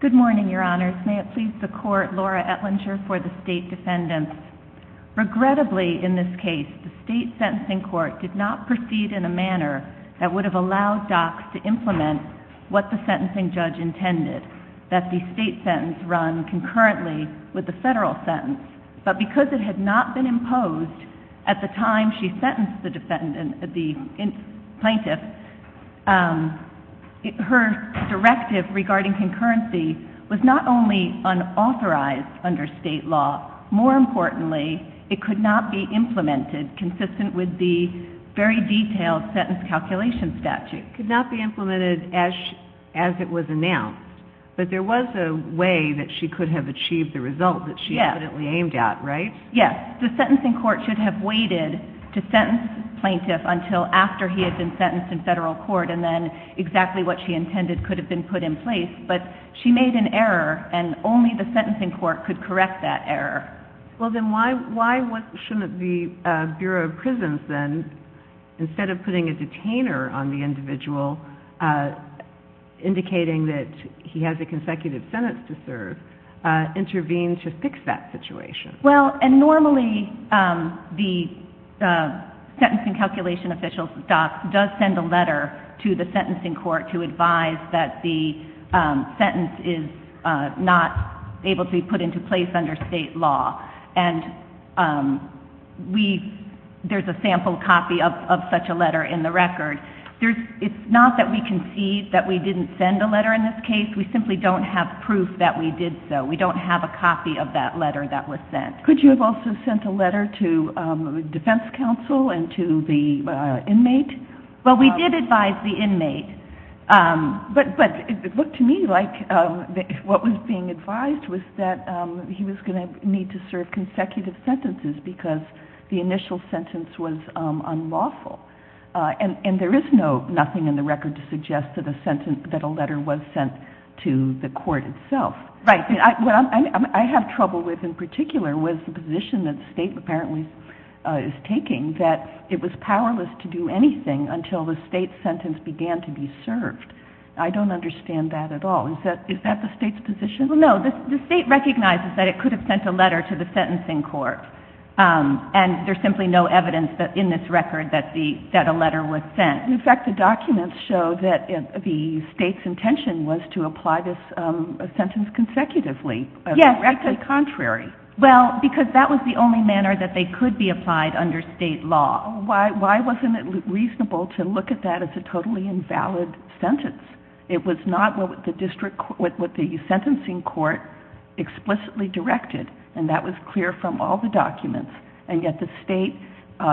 Good morning, Your Honors. May it please the Court, Laura Etlinger for the State Defendants. Regrettably, in this case, the State Sentencing Court did not proceed in a manner that would have allowed DOCS to implement what the sentencing judge intended, that the state sentence run concurrently with the federal sentence. But because it had not been imposed at the time she sentenced the plaintiff, her directive regarding concurrency was not only unauthorized under state law, more importantly, it could not be implemented consistent with the very detailed sentence calculation statute. Could not be implemented as it was announced, but there was a way that she could have achieved the result that she evidently aimed at, right? Yes. The sentencing court should have waited to sentence the plaintiff until after he had been sentenced in federal court and then exactly what she intended could have been put in place, but she made an error and only the sentencing court could correct that error. Well then why shouldn't the Bureau of Prisons then, instead of putting a detainer on the individual, indicating that he has a consecutive sentence to serve, intervene to fix that situation? Well, and normally the sentencing calculation official, DOCS, does send a letter to the defendant when a sentence is not able to be put into place under state law. And there's a sample copy of such a letter in the record. It's not that we concede that we didn't send a letter in this case. We simply don't have proof that we did so. We don't have a copy of that letter that was sent. Could you have also sent a letter to defense counsel and to the inmate? Well, we did advise the inmate. But it looked to me like what was being advised was that he was going to need to serve consecutive sentences because the initial sentence was unlawful. And there is nothing in the record to suggest that a letter was sent to the court itself. Right. What I have trouble with in particular was the position that the state apparently is powerless to do anything until the state's sentence began to be served. I don't understand that at all. Is that the state's position? Well, no. The state recognizes that it could have sent a letter to the sentencing court. And there's simply no evidence in this record that a letter was sent. In fact, the documents show that the state's intention was to apply this sentence consecutively. Yes. Directly contrary. Well, because that was the only manner that they could be applied under state law. Why wasn't it reasonable to look at that as a totally invalid sentence? It was not what the sentencing court explicitly directed. And that was clear from all the documents. And yet the state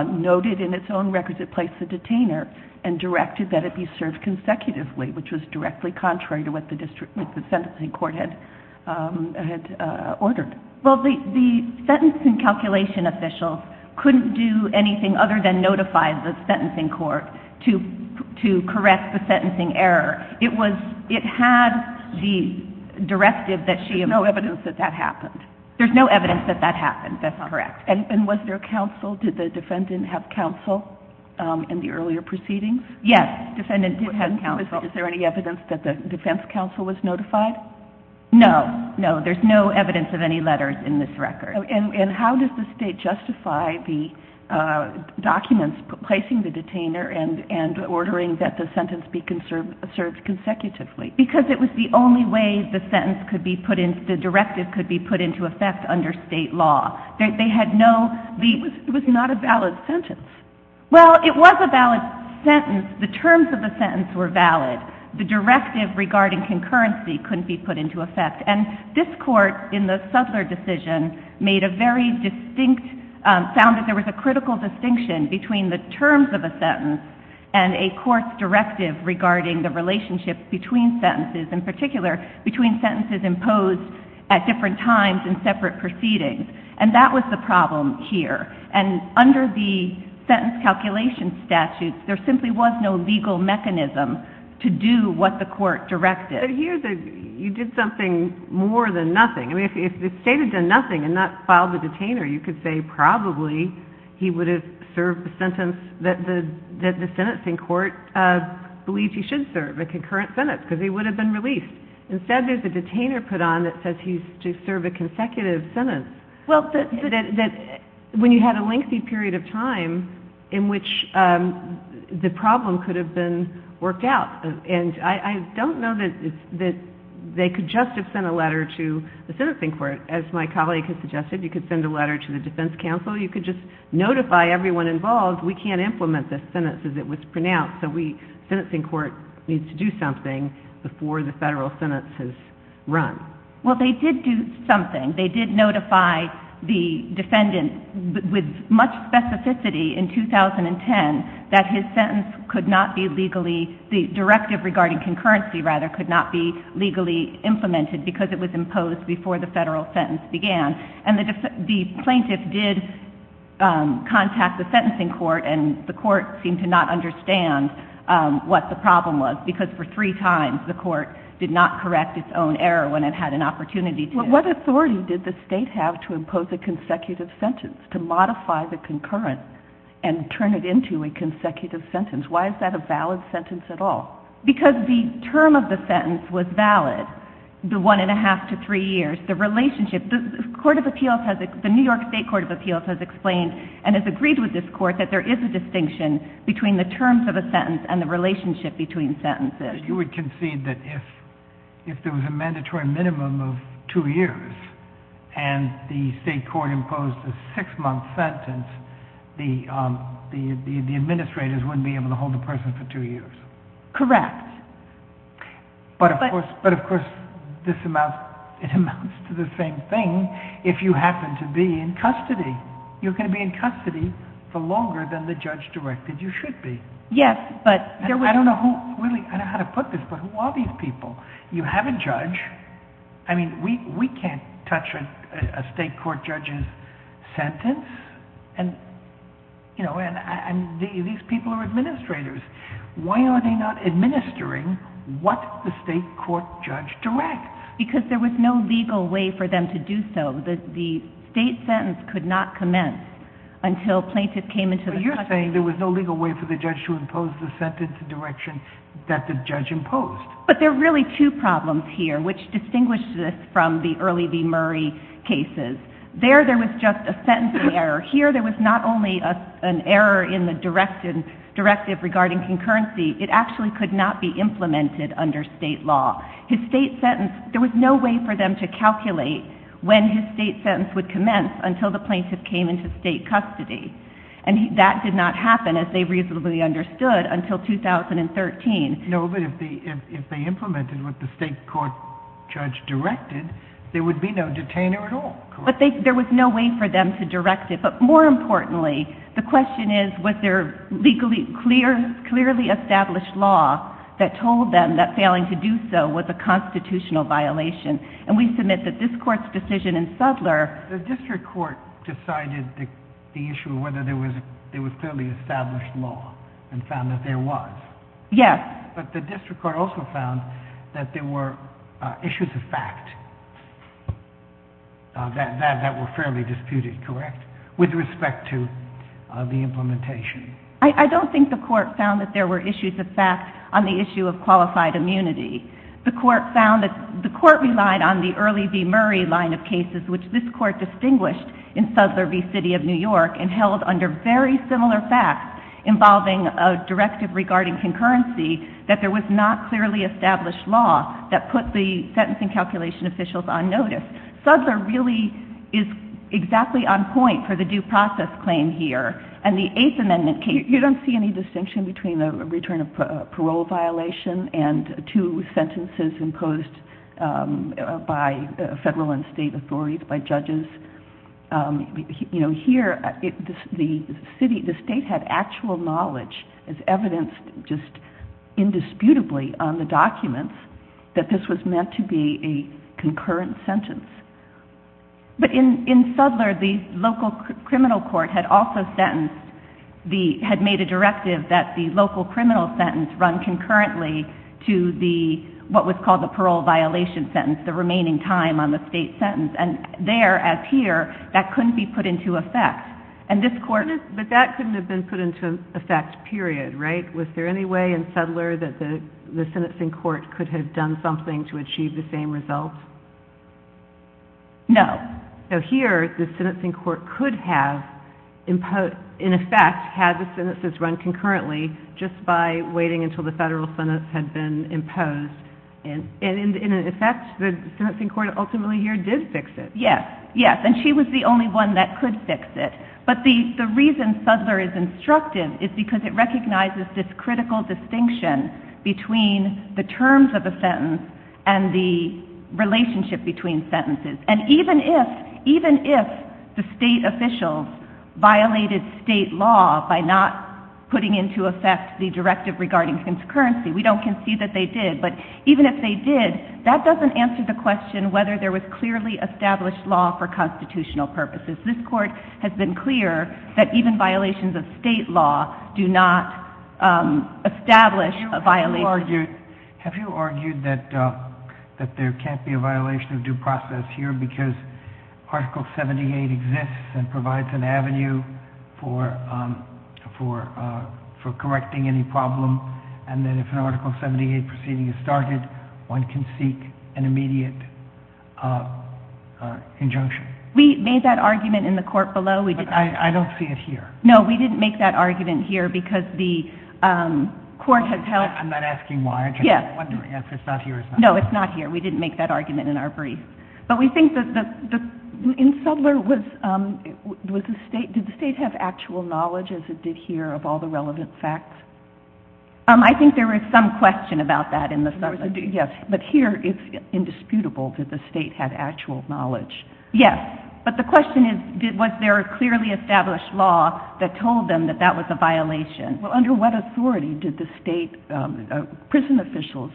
noted in its own records it placed the detainer and directed that it be served consecutively, which was directly contrary to what the sentencing court had ordered. Well, the sentencing calculation official couldn't do anything other than notify the sentencing court to correct the sentencing error. It had the directive that she had... There's no evidence that that happened. There's no evidence that that happened. That's not correct. And was there counsel? Did the defendant have counsel in the earlier proceedings? Yes. The defendant did have counsel. Is there any evidence that the defense counsel was notified? No. No. There's no evidence of any letters in this record. And how does the state justify the documents placing the detainer and ordering that the sentence be served consecutively? Because it was the only way the sentence could be put in... the directive could be put into effect under state law. They had no... It was not a valid sentence. Well, it was a valid sentence. The terms of the sentence were valid. The directive regarding concurrency couldn't be put into effect. And this court, in the Suttler decision, made a very distinct... found that there was a critical distinction between the terms of a sentence and a court's directive regarding the relationship between sentences, in particular between sentences imposed at different times in separate proceedings. And that was the problem here. And under the sentence calculation statute, there simply was no legal mechanism to do what the court directed. But here, you did something more than nothing. I mean, if the state had done nothing and not filed the detainer, you could say probably he would have served the sentence that the sentencing court believes he should serve, a concurrent sentence, because he would have been released. Instead, there's a detainer put on that says he's to serve a consecutive sentence. Well, the... No doubt. And I don't know that they could just have sent a letter to the sentencing court. As my colleague has suggested, you could send a letter to the defense counsel. You could just notify everyone involved, we can't implement this sentence as it was pronounced. So we, the sentencing court, needs to do something before the federal sentence is run. Well, they did do something. They did notify the defendant with much specificity in 2010 that his sentence could not be legally, the directive regarding concurrency, rather, could not be legally implemented because it was imposed before the federal sentence began. And the plaintiff did contact the sentencing court, and the court seemed to not understand what the problem was, because for three times, the court did not correct its own error when it had an opportunity to. What authority did the state have to impose a consecutive sentence, to modify the concurrent and turn it into a consecutive sentence? Why is that a valid sentence at all? Because the term of the sentence was valid, the one and a half to three years. The relationship, the court of appeals has, the New York State Court of Appeals has explained, and has agreed with this court, that there is a distinction between the terms of a sentence and the relationship between sentences. You would concede that if there was a mandatory minimum of two years, and the state court imposed a six-month sentence, the administrators wouldn't be able to hold the person for two years? Correct. But, of course, this amounts to the same thing if you happen to be in custody. You're going to be in custody for longer than the judge directed you should be. Yes, but there was... I don't know who, really, I don't know how to put this, but who are these people? You know, we can't touch a state court judge's sentence, and these people are administrators. Why are they not administering what the state court judge directs? Because there was no legal way for them to do so. The state sentence could not commence until plaintiffs came into the custody. But you're saying there was no legal way for the judge to impose the sentence direction that the judge imposed. But there are really two problems here, which distinguish this from the early V. Murray cases. There, there was just a sentencing error. Here, there was not only an error in the directive regarding concurrency, it actually could not be implemented under state law. His state sentence, there was no way for them to calculate when his state sentence would commence until the plaintiff came into state custody. And that did not happen, as they reasonably understood, until 2013. No, but if they implemented what the state court judge directed, there would be no detainer at all, correct? There was no way for them to direct it. But more importantly, the question is, was there legally clear, clearly established law that told them that failing to do so was a constitutional violation? And we submit that this court's decision in Suttler... The district court decided the issue of whether there was clearly established law and found that there was. Yes. But the district court also found that there were issues of fact that were fairly disputed, correct? With respect to the implementation. I don't think the court found that there were issues of fact on the issue of qualified immunity. The court relied on the early V. Murray line of cases, which this court distinguished in Suttler v. City of New York and held under very similar facts involving a directive regarding concurrency, that there was not clearly established law that put the sentencing calculation officials on notice. Suttler really is exactly on point for the due process claim here. And the Eighth Amendment case... You don't see any distinction between a return of parole violation and two sentences imposed by federal and state authorities, by judges? You know, here, the state had actual knowledge as evidenced just indisputably on the documents that this was meant to be a concurrent sentence. But in Suttler, the local criminal court had also sentenced... Had made a directive that the local criminal sentence run concurrently to what was called the parole violation sentence, the remaining time on the state sentence. And there, as here, that couldn't be put into effect. But that couldn't have been put into effect, period, right? Was there any way in Suttler that the sentencing court could have done something to achieve the same result? No. So here, the sentencing court could have, in effect, had the sentences run concurrently just by waiting until the federal sentence had been imposed. And in effect, the sentencing court ultimately here did fix it. Yes. Yes. And she was the only one that could fix it. But the reason Suttler is instructive is because it recognizes this critical distinction between the terms of a sentence and the relationship between sentences. And even if the state officials violated state law by not putting into effect the directive regarding concurrency, we don't concede that they did, but even if they did, that doesn't answer the question whether there was clearly established law for constitutional purposes. This court has been clear that even violations of state law do not establish a violation. Have you argued that there can't be a violation of due process here because Article 78 exists and provides an avenue for correcting any problem, and that if an Article 78 proceeding is started, one can seek an immediate injunction? We made that argument in the court below. But I don't see it here. No, we didn't make that argument here because the court has held... I'm not asking why. I'm just wondering if it's not here or not. No, it's not here. We didn't make that argument in our brief. But we think that the... In Suttler, did the state have actual knowledge, as it did here, of all the relevant facts? I think there was some question about that in the Suttler case. Yes, but here it's indisputable that the state had actual knowledge. Yes, but the question is, was there a clearly established law that told them that that was a violation? Well, under what authority did the state... Prison officials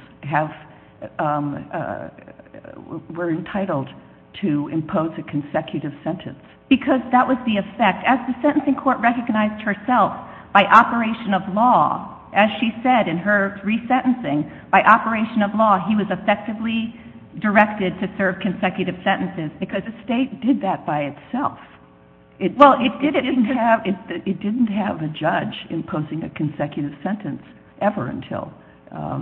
were entitled to impose a consecutive sentence. Because that was the effect. As the sentencing court recognized herself by operation of law as she said in her re-sentencing, by operation of law, he was effectively directed to serve consecutive sentences. Because the state did that by itself. Well, it didn't have... It didn't have a judge imposing a consecutive sentence ever until...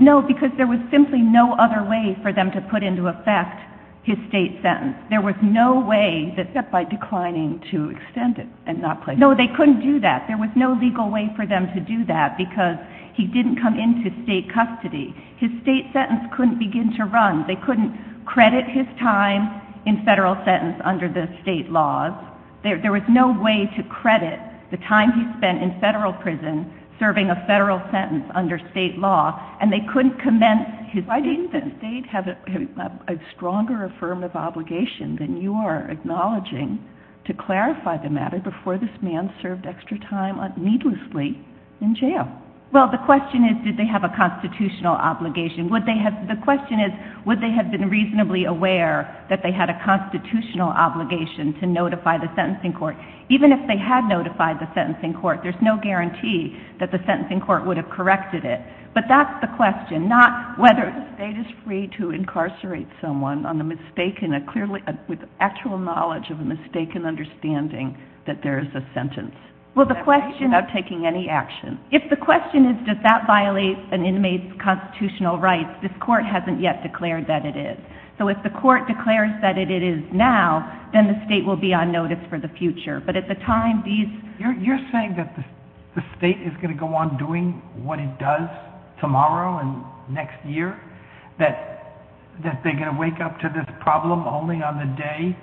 No, because there was simply no other way for them to put into effect his state sentence. There was no way that... Except by declining to extend it and not place... No, they couldn't do that. There was no legal way for them to do that because he didn't come into state custody. His state sentence couldn't begin to run. They couldn't credit his time in federal sentence under the state laws. There was no way to credit the time he spent in federal prison serving a federal sentence under state law. And they couldn't commence his state sentence. Why didn't the state have a stronger affirmative obligation than you are acknowledging to this man served extra time needlessly in jail? Well, the question is, did they have a constitutional obligation? Would they have... The question is, would they have been reasonably aware that they had a constitutional obligation to notify the sentencing court? Even if they had notified the sentencing court, there's no guarantee that the sentencing court would have corrected it. But that's the question, not whether... The state is free to incarcerate someone on the mistaken... With actual knowledge of a mistaken understanding that there is a sentence. Without taking any action. If the question is, does that violate an inmate's constitutional rights? This court hasn't yet declared that it is. So if the court declares that it is now, then the state will be on notice for the future. But at the time, these... You're saying that the state is going to go on doing what it does tomorrow and next year? That they're going to wake up to this problem only on the day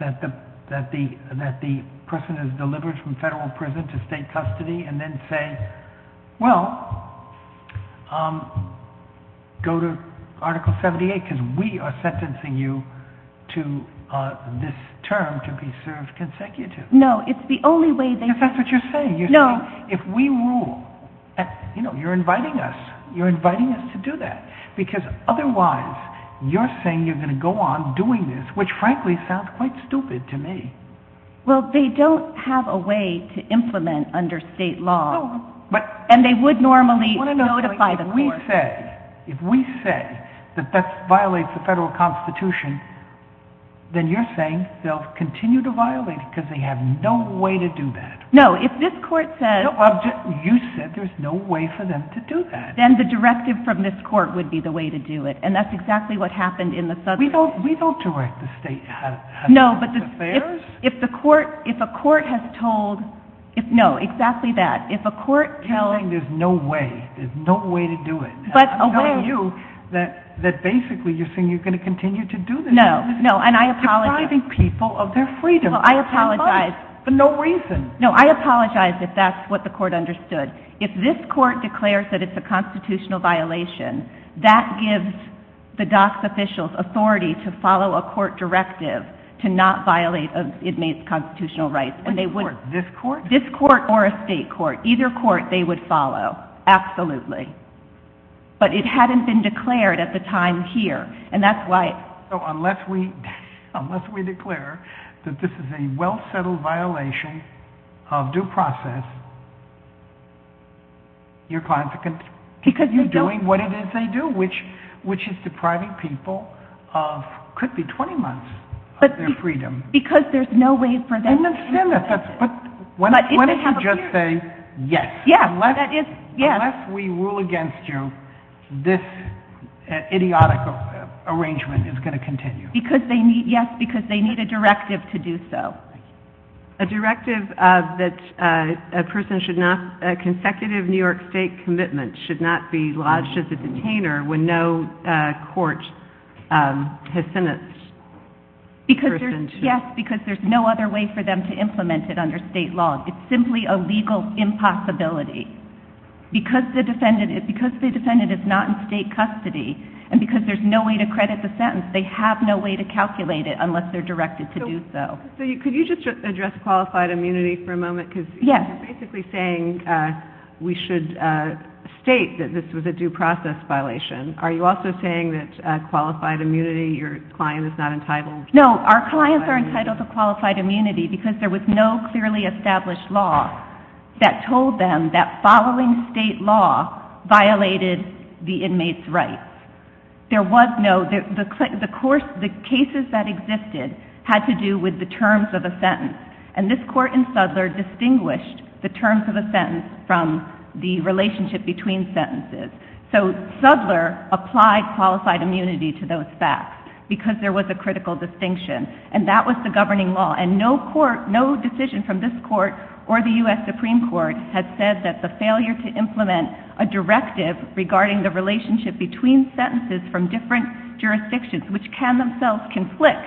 that the person is delivered from federal prison to state custody and then say, well, go to Article 78, because we are sentencing you to this term to be served consecutive. No, it's the only way they... Because that's what you're saying. No. If we rule... You know, you're inviting us. You're inviting us to do that. Because otherwise, you're saying you're going to go on doing this, which frankly sounds quite stupid to me. Well, they don't have a way to implement under state law. And they would normally notify the court. If we say that that violates the federal constitution, then you're saying they'll continue to violate it because they have no way to do that. No, if this court says... You said there's no way for them to do that. Then the directive from this court would be the way to do it, and that's exactly what happened in the southern state. We don't direct the state. No, but if the court has told... No, exactly that. If a court tells... You're saying there's no way, there's no way to do it. I'm telling you that basically you're saying you're going to continue to do this. No, no, and I apologize. You're depriving people of their freedom. I apologize. For no reason. No, I apologize if that's what the court understood. If this court declares that it's a constitutional violation, that gives the DOCS officials authority to follow a court directive to not violate a constitutional right. This court? This court or a state court. Either court they would follow, absolutely. But it hadn't been declared at the time here, and that's why... So unless we declare that this is a well-settled violation of due process, you're doing what it is they do, which is depriving people of, could be 20 months of their freedom. Because there's no way for them to... But why don't you just say yes? Yes. Unless we rule against you, this idiotic arrangement is going to continue. Yes, because they need a directive to do so. A directive that a person should not, a consecutive New York State commitment should not be lodged as a detainer when no court has sentenced a person to... Yes, because there's no other way for them to implement it under state law. It's simply a legal impossibility. Because the defendant is not in state custody and because there's no way to credit the sentence, they have no way to calculate it unless they're directed to do so. So could you just address qualified immunity for a moment? Because you're basically saying we should state that this was a due process violation. Are you also saying that qualified immunity, your client is not entitled... No, our clients are entitled to qualified immunity because there was no clearly established law that told them that following state law violated the inmate's rights. There was no... The cases that existed had to do with the terms of a sentence. And this court in Suttler distinguished the terms of a sentence from the relationship between sentences. So Suttler applied qualified immunity to those facts because there was a critical distinction. And that was the governing law. And no court, no decision from this court or the U.S. Supreme Court has said that the failure to implement a directive regarding the relationship between sentences from different jurisdictions, which can themselves conflict,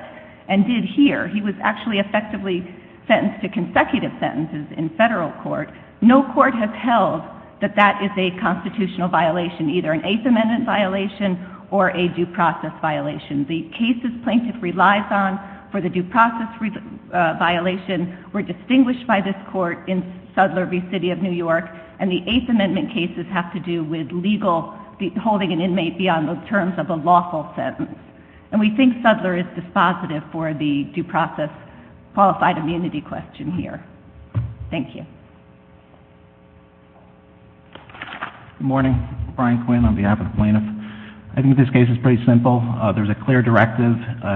and did here. He was actually effectively sentenced to consecutive sentences in federal court. No court has held that that is a constitutional violation, either an Eighth Amendment violation or a due process violation. The cases plaintiff relies on for the due process violation were distinguished by this court in Suttler v. City of New York, and the Eighth Amendment cases have to do with legal, holding an inmate beyond the terms of a lawful sentence. And we think Suttler is dispositive for the due process qualified immunity question here. Thank you. Good morning. Brian Quinn on behalf of the plaintiff. I think this case is pretty simple. There's a clear directive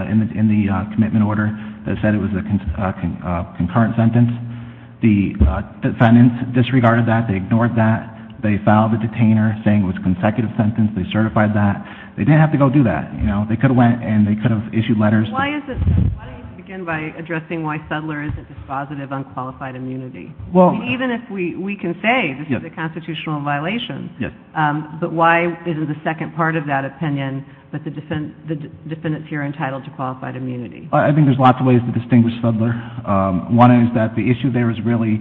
in the commitment order that said it was a concurrent sentence. The defendants disregarded that. They ignored that. They filed a detainer saying it was a consecutive sentence. They certified that. They didn't have to go do that. They could have went and they could have issued letters. Why don't you begin by addressing why Suttler isn't dispositive on qualified immunity? Even if we can say this is a constitutional violation, but why isn't the second part of that opinion that the defendants here are entitled to qualified immunity? I think there's lots of ways to distinguish Suttler. One is that the issue there is really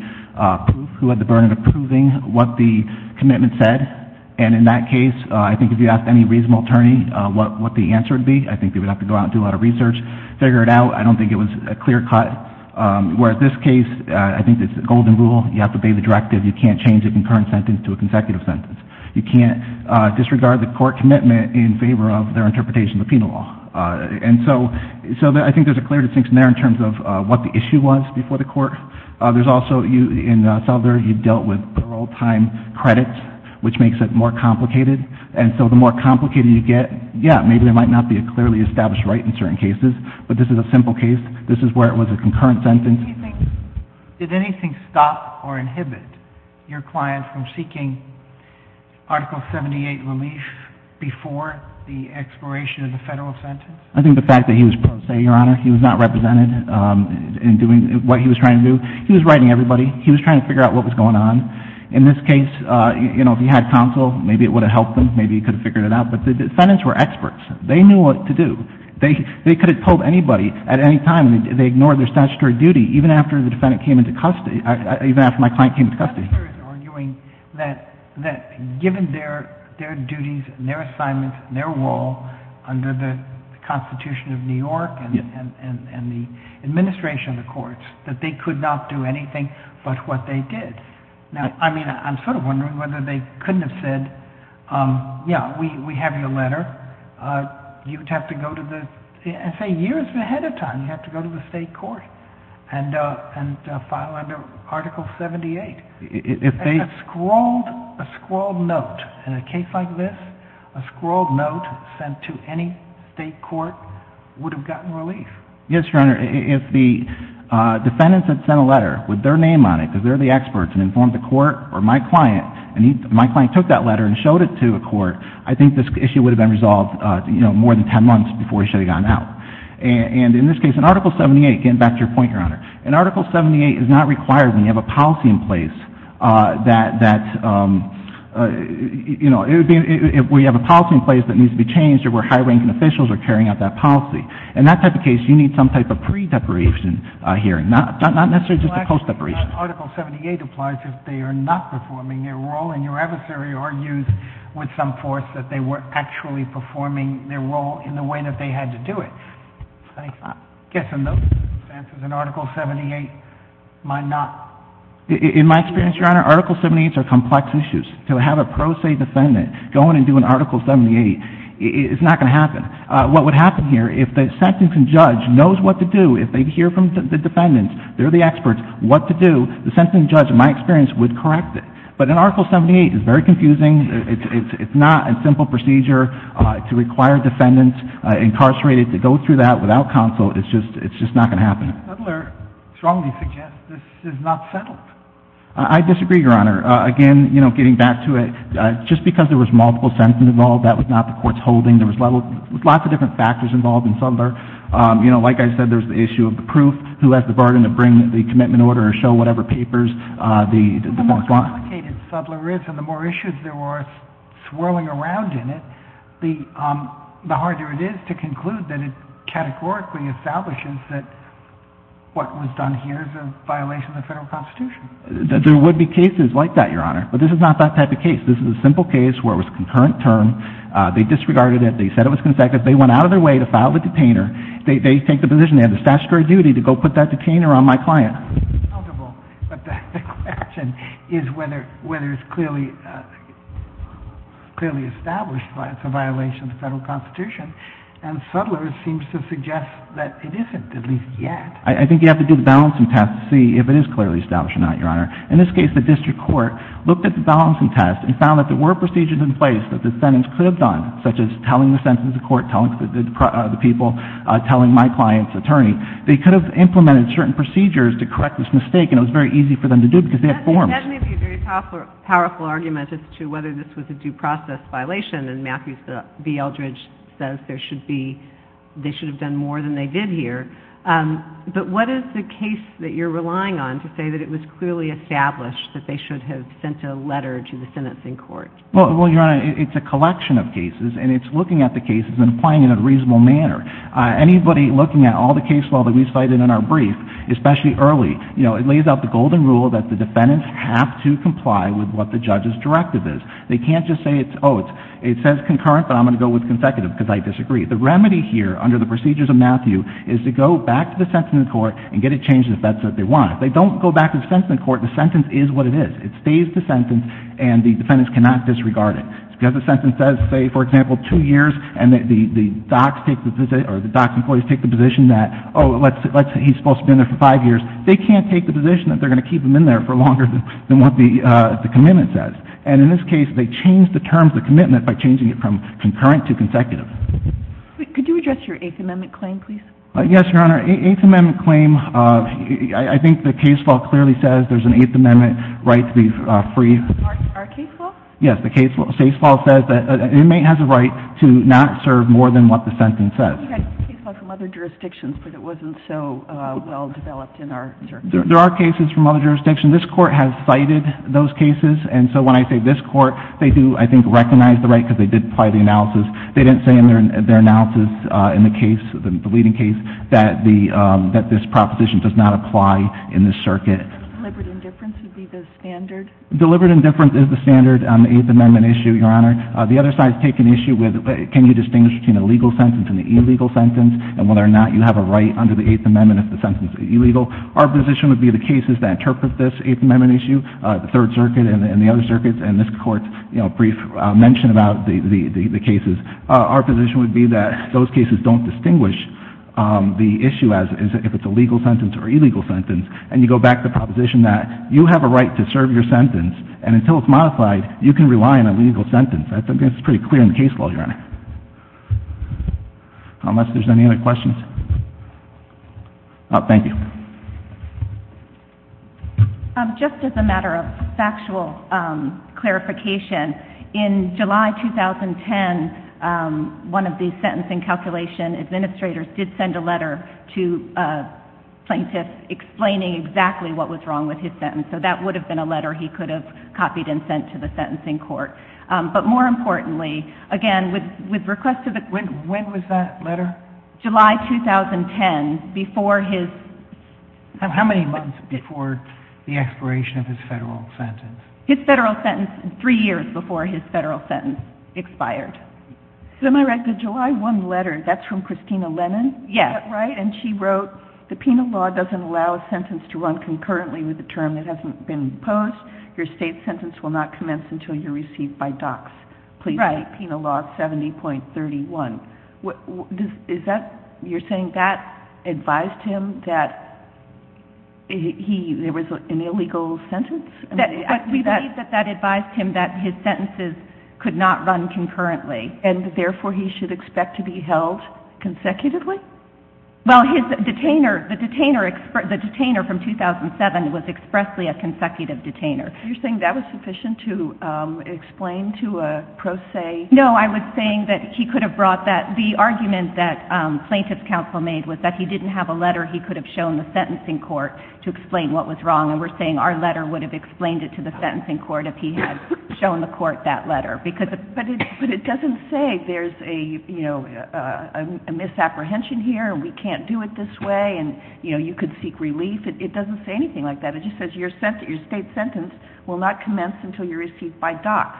who had the burden of proving what the commitment said. And in that case, I think if you asked any reasonable attorney what the answer would be, I think they would have to go out and do a lot of research, figure it out. I don't think it was a clear cut. Whereas this case, I think it's the golden rule. You have to obey the directive. You can't change a concurrent sentence to a consecutive sentence. You can't disregard the court commitment in favor of their interpretation of the penal law. And so I think there's a clear distinction there in terms of what the issue was before the court. There's also, in Suttler, you dealt with parole time credits, which makes it more complicated. And so the more complicated you get, yeah, maybe there might not be a clearly established right in certain cases, but this is a simple case. This is where it was a concurrent sentence. Did anything stop or inhibit your client from seeking Article 78 relief before the expiration of the federal sentence? I think the fact that he was pro se, Your Honor, he was not represented in doing what he was trying to do. He was writing everybody. He was trying to figure out what was going on. In this case, you know, if he had counsel, maybe it would have helped him. Maybe he could have figured it out. But the defendants were experts. They knew what to do. They could have told anybody at any time, and they ignored their statutory duty, even after the defendant came into custody, even after my client came into custody. Suttler is arguing that given their duties and their assignments and their role under the Constitution of New York and the administration of the courts, that they could not do anything but what they did. Now, I mean, I'm sort of wondering whether they couldn't have said, yeah, we have your letter. You'd have to go to the SA years ahead of time. You'd have to go to the state court and file under Article 78. A scrawled note in a case like this, a scrawled note sent to any state court would have gotten relief. Yes, Your Honor. If the defendants had sent a letter with their name on it because they're the experts and informed the court or my client and my client took that letter and showed it to a court, I think this issue would have been resolved, you know, more than 10 months before he should have gotten out. And in this case, in Article 78, getting back to your point, Your Honor, in Article 78 is not required when you have a policy in place that, you know, if we have a policy in place that needs to be changed or where high-ranking officials are carrying out that policy. In that type of case, you need some type of pre-deparation hearing, not necessarily just a post-deparation. Your Honor, Article 78 applies if they are not performing their role, and your adversary argues with some force that they were actually performing their role in the way that they had to do it. I guess in those circumstances, an Article 78 might not. In my experience, Your Honor, Article 78s are complex issues. To have a pro se defendant go in and do an Article 78 is not going to happen. What would happen here, if the sentencing judge knows what to do, if they hear from the defendants, they're the experts, what to do, the sentencing judge, in my experience, would correct it. But an Article 78 is very confusing. It's not a simple procedure to require defendants incarcerated to go through that without counsel. It's just not going to happen. Settler strongly suggests this is not settled. I disagree, Your Honor. Again, you know, getting back to it, just because there was multiple sentencing involved, that was not the Court's holding. There was lots of different factors involved in Settler. You know, like I said, there's the issue of the proof. Who has the burden to bring the commitment order or show whatever papers the court wants? The more complicated Settler is and the more issues there are swirling around in it, the harder it is to conclude that it categorically establishes that what was done here is a violation of the Federal Constitution. There would be cases like that, Your Honor. But this is not that type of case. This is a simple case where it was a concurrent term. They disregarded it. They said it was consecutive. They went out of their way to file the detainer. They take the position they have the statutory duty to go put that detainer on my client. But the question is whether it's clearly established that it's a violation of the Federal Constitution. And Settler seems to suggest that it isn't, at least yet. I think you have to do the balancing test to see if it is clearly established or not, Your Honor. In this case, the district court looked at the balancing test and found that there were procedures in place that the sentence could have done, such as telling the sentence to the court, telling the people, telling my client's attorney. They could have implemented certain procedures to correct this mistake, and it was very easy for them to do because they have forms. That may be a very powerful argument as to whether this was a due process violation, and Matthew B. Eldridge says there should be they should have done more than they did here. But what is the case that you're relying on to say that it was clearly established that they should have sent a letter to the sentencing court? Well, Your Honor, it's a collection of cases, and it's looking at the cases and applying it in a reasonable manner. Anybody looking at all the cases that we cited in our brief, especially early, it lays out the golden rule that the defendants have to comply with what the judge's directive is. They can't just say, oh, it says concurrent, but I'm going to go with consecutive because I disagree. The remedy here under the procedures of Matthew is to go back to the sentencing court and get it changed if that's what they want. If they don't go back to the sentencing court, the sentence is what it is. It stays the sentence, and the defendants cannot disregard it. It's because the sentence says, say, for example, two years, and the DOCS employees take the position that, oh, let's say he's supposed to be in there for five years. They can't take the position that they're going to keep him in there for longer than what the commitment says. And in this case, they changed the terms of the commitment by changing it from concurrent to consecutive. Could you address your Eighth Amendment claim, please? Yes, Your Honor. Eighth Amendment claim, I think the case law clearly says there's an Eighth Amendment right to be free. Our case law? Yes. The case law says that an inmate has a right to not serve more than what the sentence says. You've got case law from other jurisdictions, but it wasn't so well developed in our jurisdiction. There are cases from other jurisdictions. This Court has cited those cases. And so when I say this Court, they do, I think, recognize the right because they did apply the analysis. They didn't say in their analysis in the case, the leading case, that this proposition does not apply in this circuit. Deliberate indifference would be the standard? Deliberate indifference is the standard on the Eighth Amendment issue, Your Honor. The other side is taking the issue with can you distinguish between a legal sentence and an illegal sentence, and whether or not you have a right under the Eighth Amendment if the sentence is illegal. Our position would be the cases that interpret this Eighth Amendment issue, the Third Circuit and the other circuits, and this Court's brief mention about the cases, our position would be that those cases don't distinguish the issue as if it's a legal sentence or illegal sentence. And you go back to the proposition that you have a right to serve your sentence, and until it's modified, you can rely on a legal sentence. That's pretty clear in the case law, Your Honor. Unless there's any other questions. Thank you. Just as a matter of factual clarification, in July 2010, one of the sentencing calculation administrators did send a letter to a plaintiff explaining exactly what was wrong with his sentence, so that would have been a letter he could have copied and sent to the sentencing court. But more importantly, again, with request to the Court... When was that letter? July 2010, before his... How many months before the expiration of his federal sentence? His federal sentence, three years before his federal sentence expired. So am I right, the July 1 letter, that's from Christina Lennon? Yes. Right, and she wrote, the penal law doesn't allow a sentence to run concurrently with a term that hasn't been imposed. Your state sentence will not commence until you're received by DOCS. Please state penal law 70.31. You're saying that advised him that there was an illegal sentence? We believe that that advised him that his sentences could not run concurrently. And therefore, he should expect to be held consecutively? Well, the detainer from 2007 was expressly a consecutive detainer. You're saying that was sufficient to explain to a pro se? No, I was saying that he could have brought that... The argument that plaintiff's counsel made was that he didn't have a letter he could have shown the sentencing court to explain what was wrong. And we're saying our letter would have explained it to the sentencing court if he had shown the court that letter. But it doesn't say there's a misapprehension here and we can't do it this way and you could seek relief. It doesn't say anything like that. It just says your state sentence will not commence until you're received by DOCS.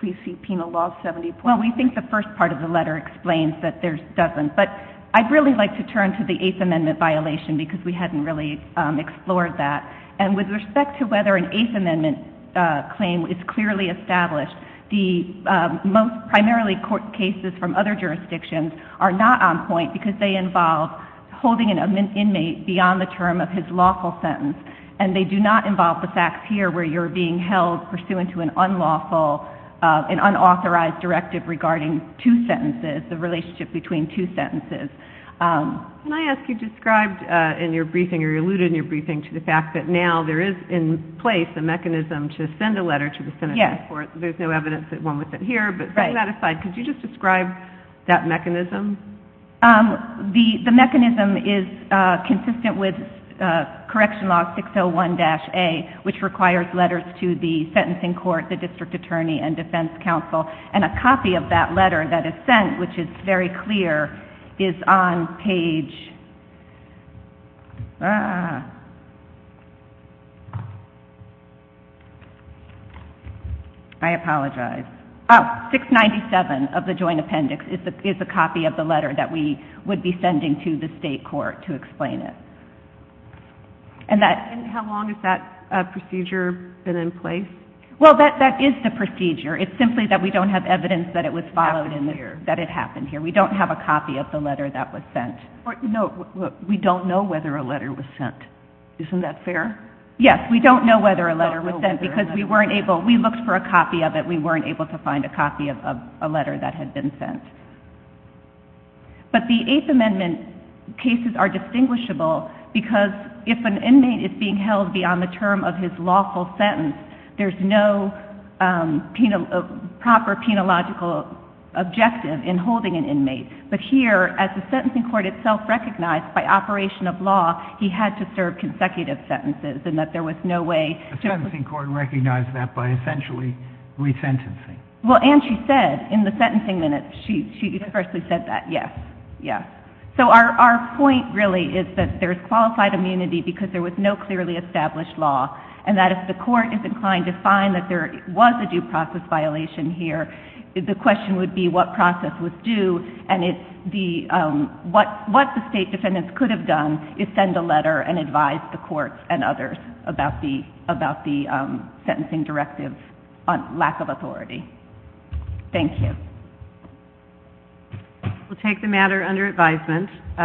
Please see Penal Law 70. Well, we think the first part of the letter explains that there doesn't. But I'd really like to turn to the Eighth Amendment violation because we hadn't really explored that. And with respect to whether an Eighth Amendment claim is clearly established, the most primarily court cases from other jurisdictions are not on point because they involve holding an inmate beyond the term of his lawful sentence. And they do not involve the facts here where you're being held pursuant to an unlawful and unauthorized directive regarding two sentences, the relationship between two sentences. Can I ask, you described in your briefing or you alluded in your briefing to the fact that now there is in place a mechanism to send a letter to the sentencing court. There's no evidence that went with it here. But setting that aside, could you just describe that mechanism? The mechanism is consistent with Correction Law 601-A, which requires letters to the sentencing court, the district attorney, and defense counsel. And a copy of that letter that is sent, which is very clear, is on page... I apologize. Oh, 697 of the joint appendix is a copy of the letter that we would be sending to the state court to explain it. And how long has that procedure been in place? Well, that is the procedure. It's simply that we don't have evidence that it happened here. We don't have a copy of the letter that was sent. No, we don't know whether a letter was sent. Isn't that fair? Yes, we don't know whether a letter was sent because we weren't able... We looked for a copy of it. We weren't able to find a copy of a letter that had been sent. But the Eighth Amendment cases are distinguishable because if an inmate is being held beyond the term of his lawful sentence, there's no proper penological objective in holding an inmate. But here, as the sentencing court itself recognized by operation of law, he had to serve consecutive sentences and that there was no way... The sentencing court recognized that by essentially resentencing. Well, and she said in the sentencing minutes, she universally said that. Yes, yes. So our point really is that there's qualified immunity because there was no clearly established law and that if the court is inclined to find that there was a due process violation here, the question would be what process was due and what the state defendants could have done is send a letter and advise the courts and others about the sentencing directive on lack of authority. Thank you. We'll take the matter under advisement.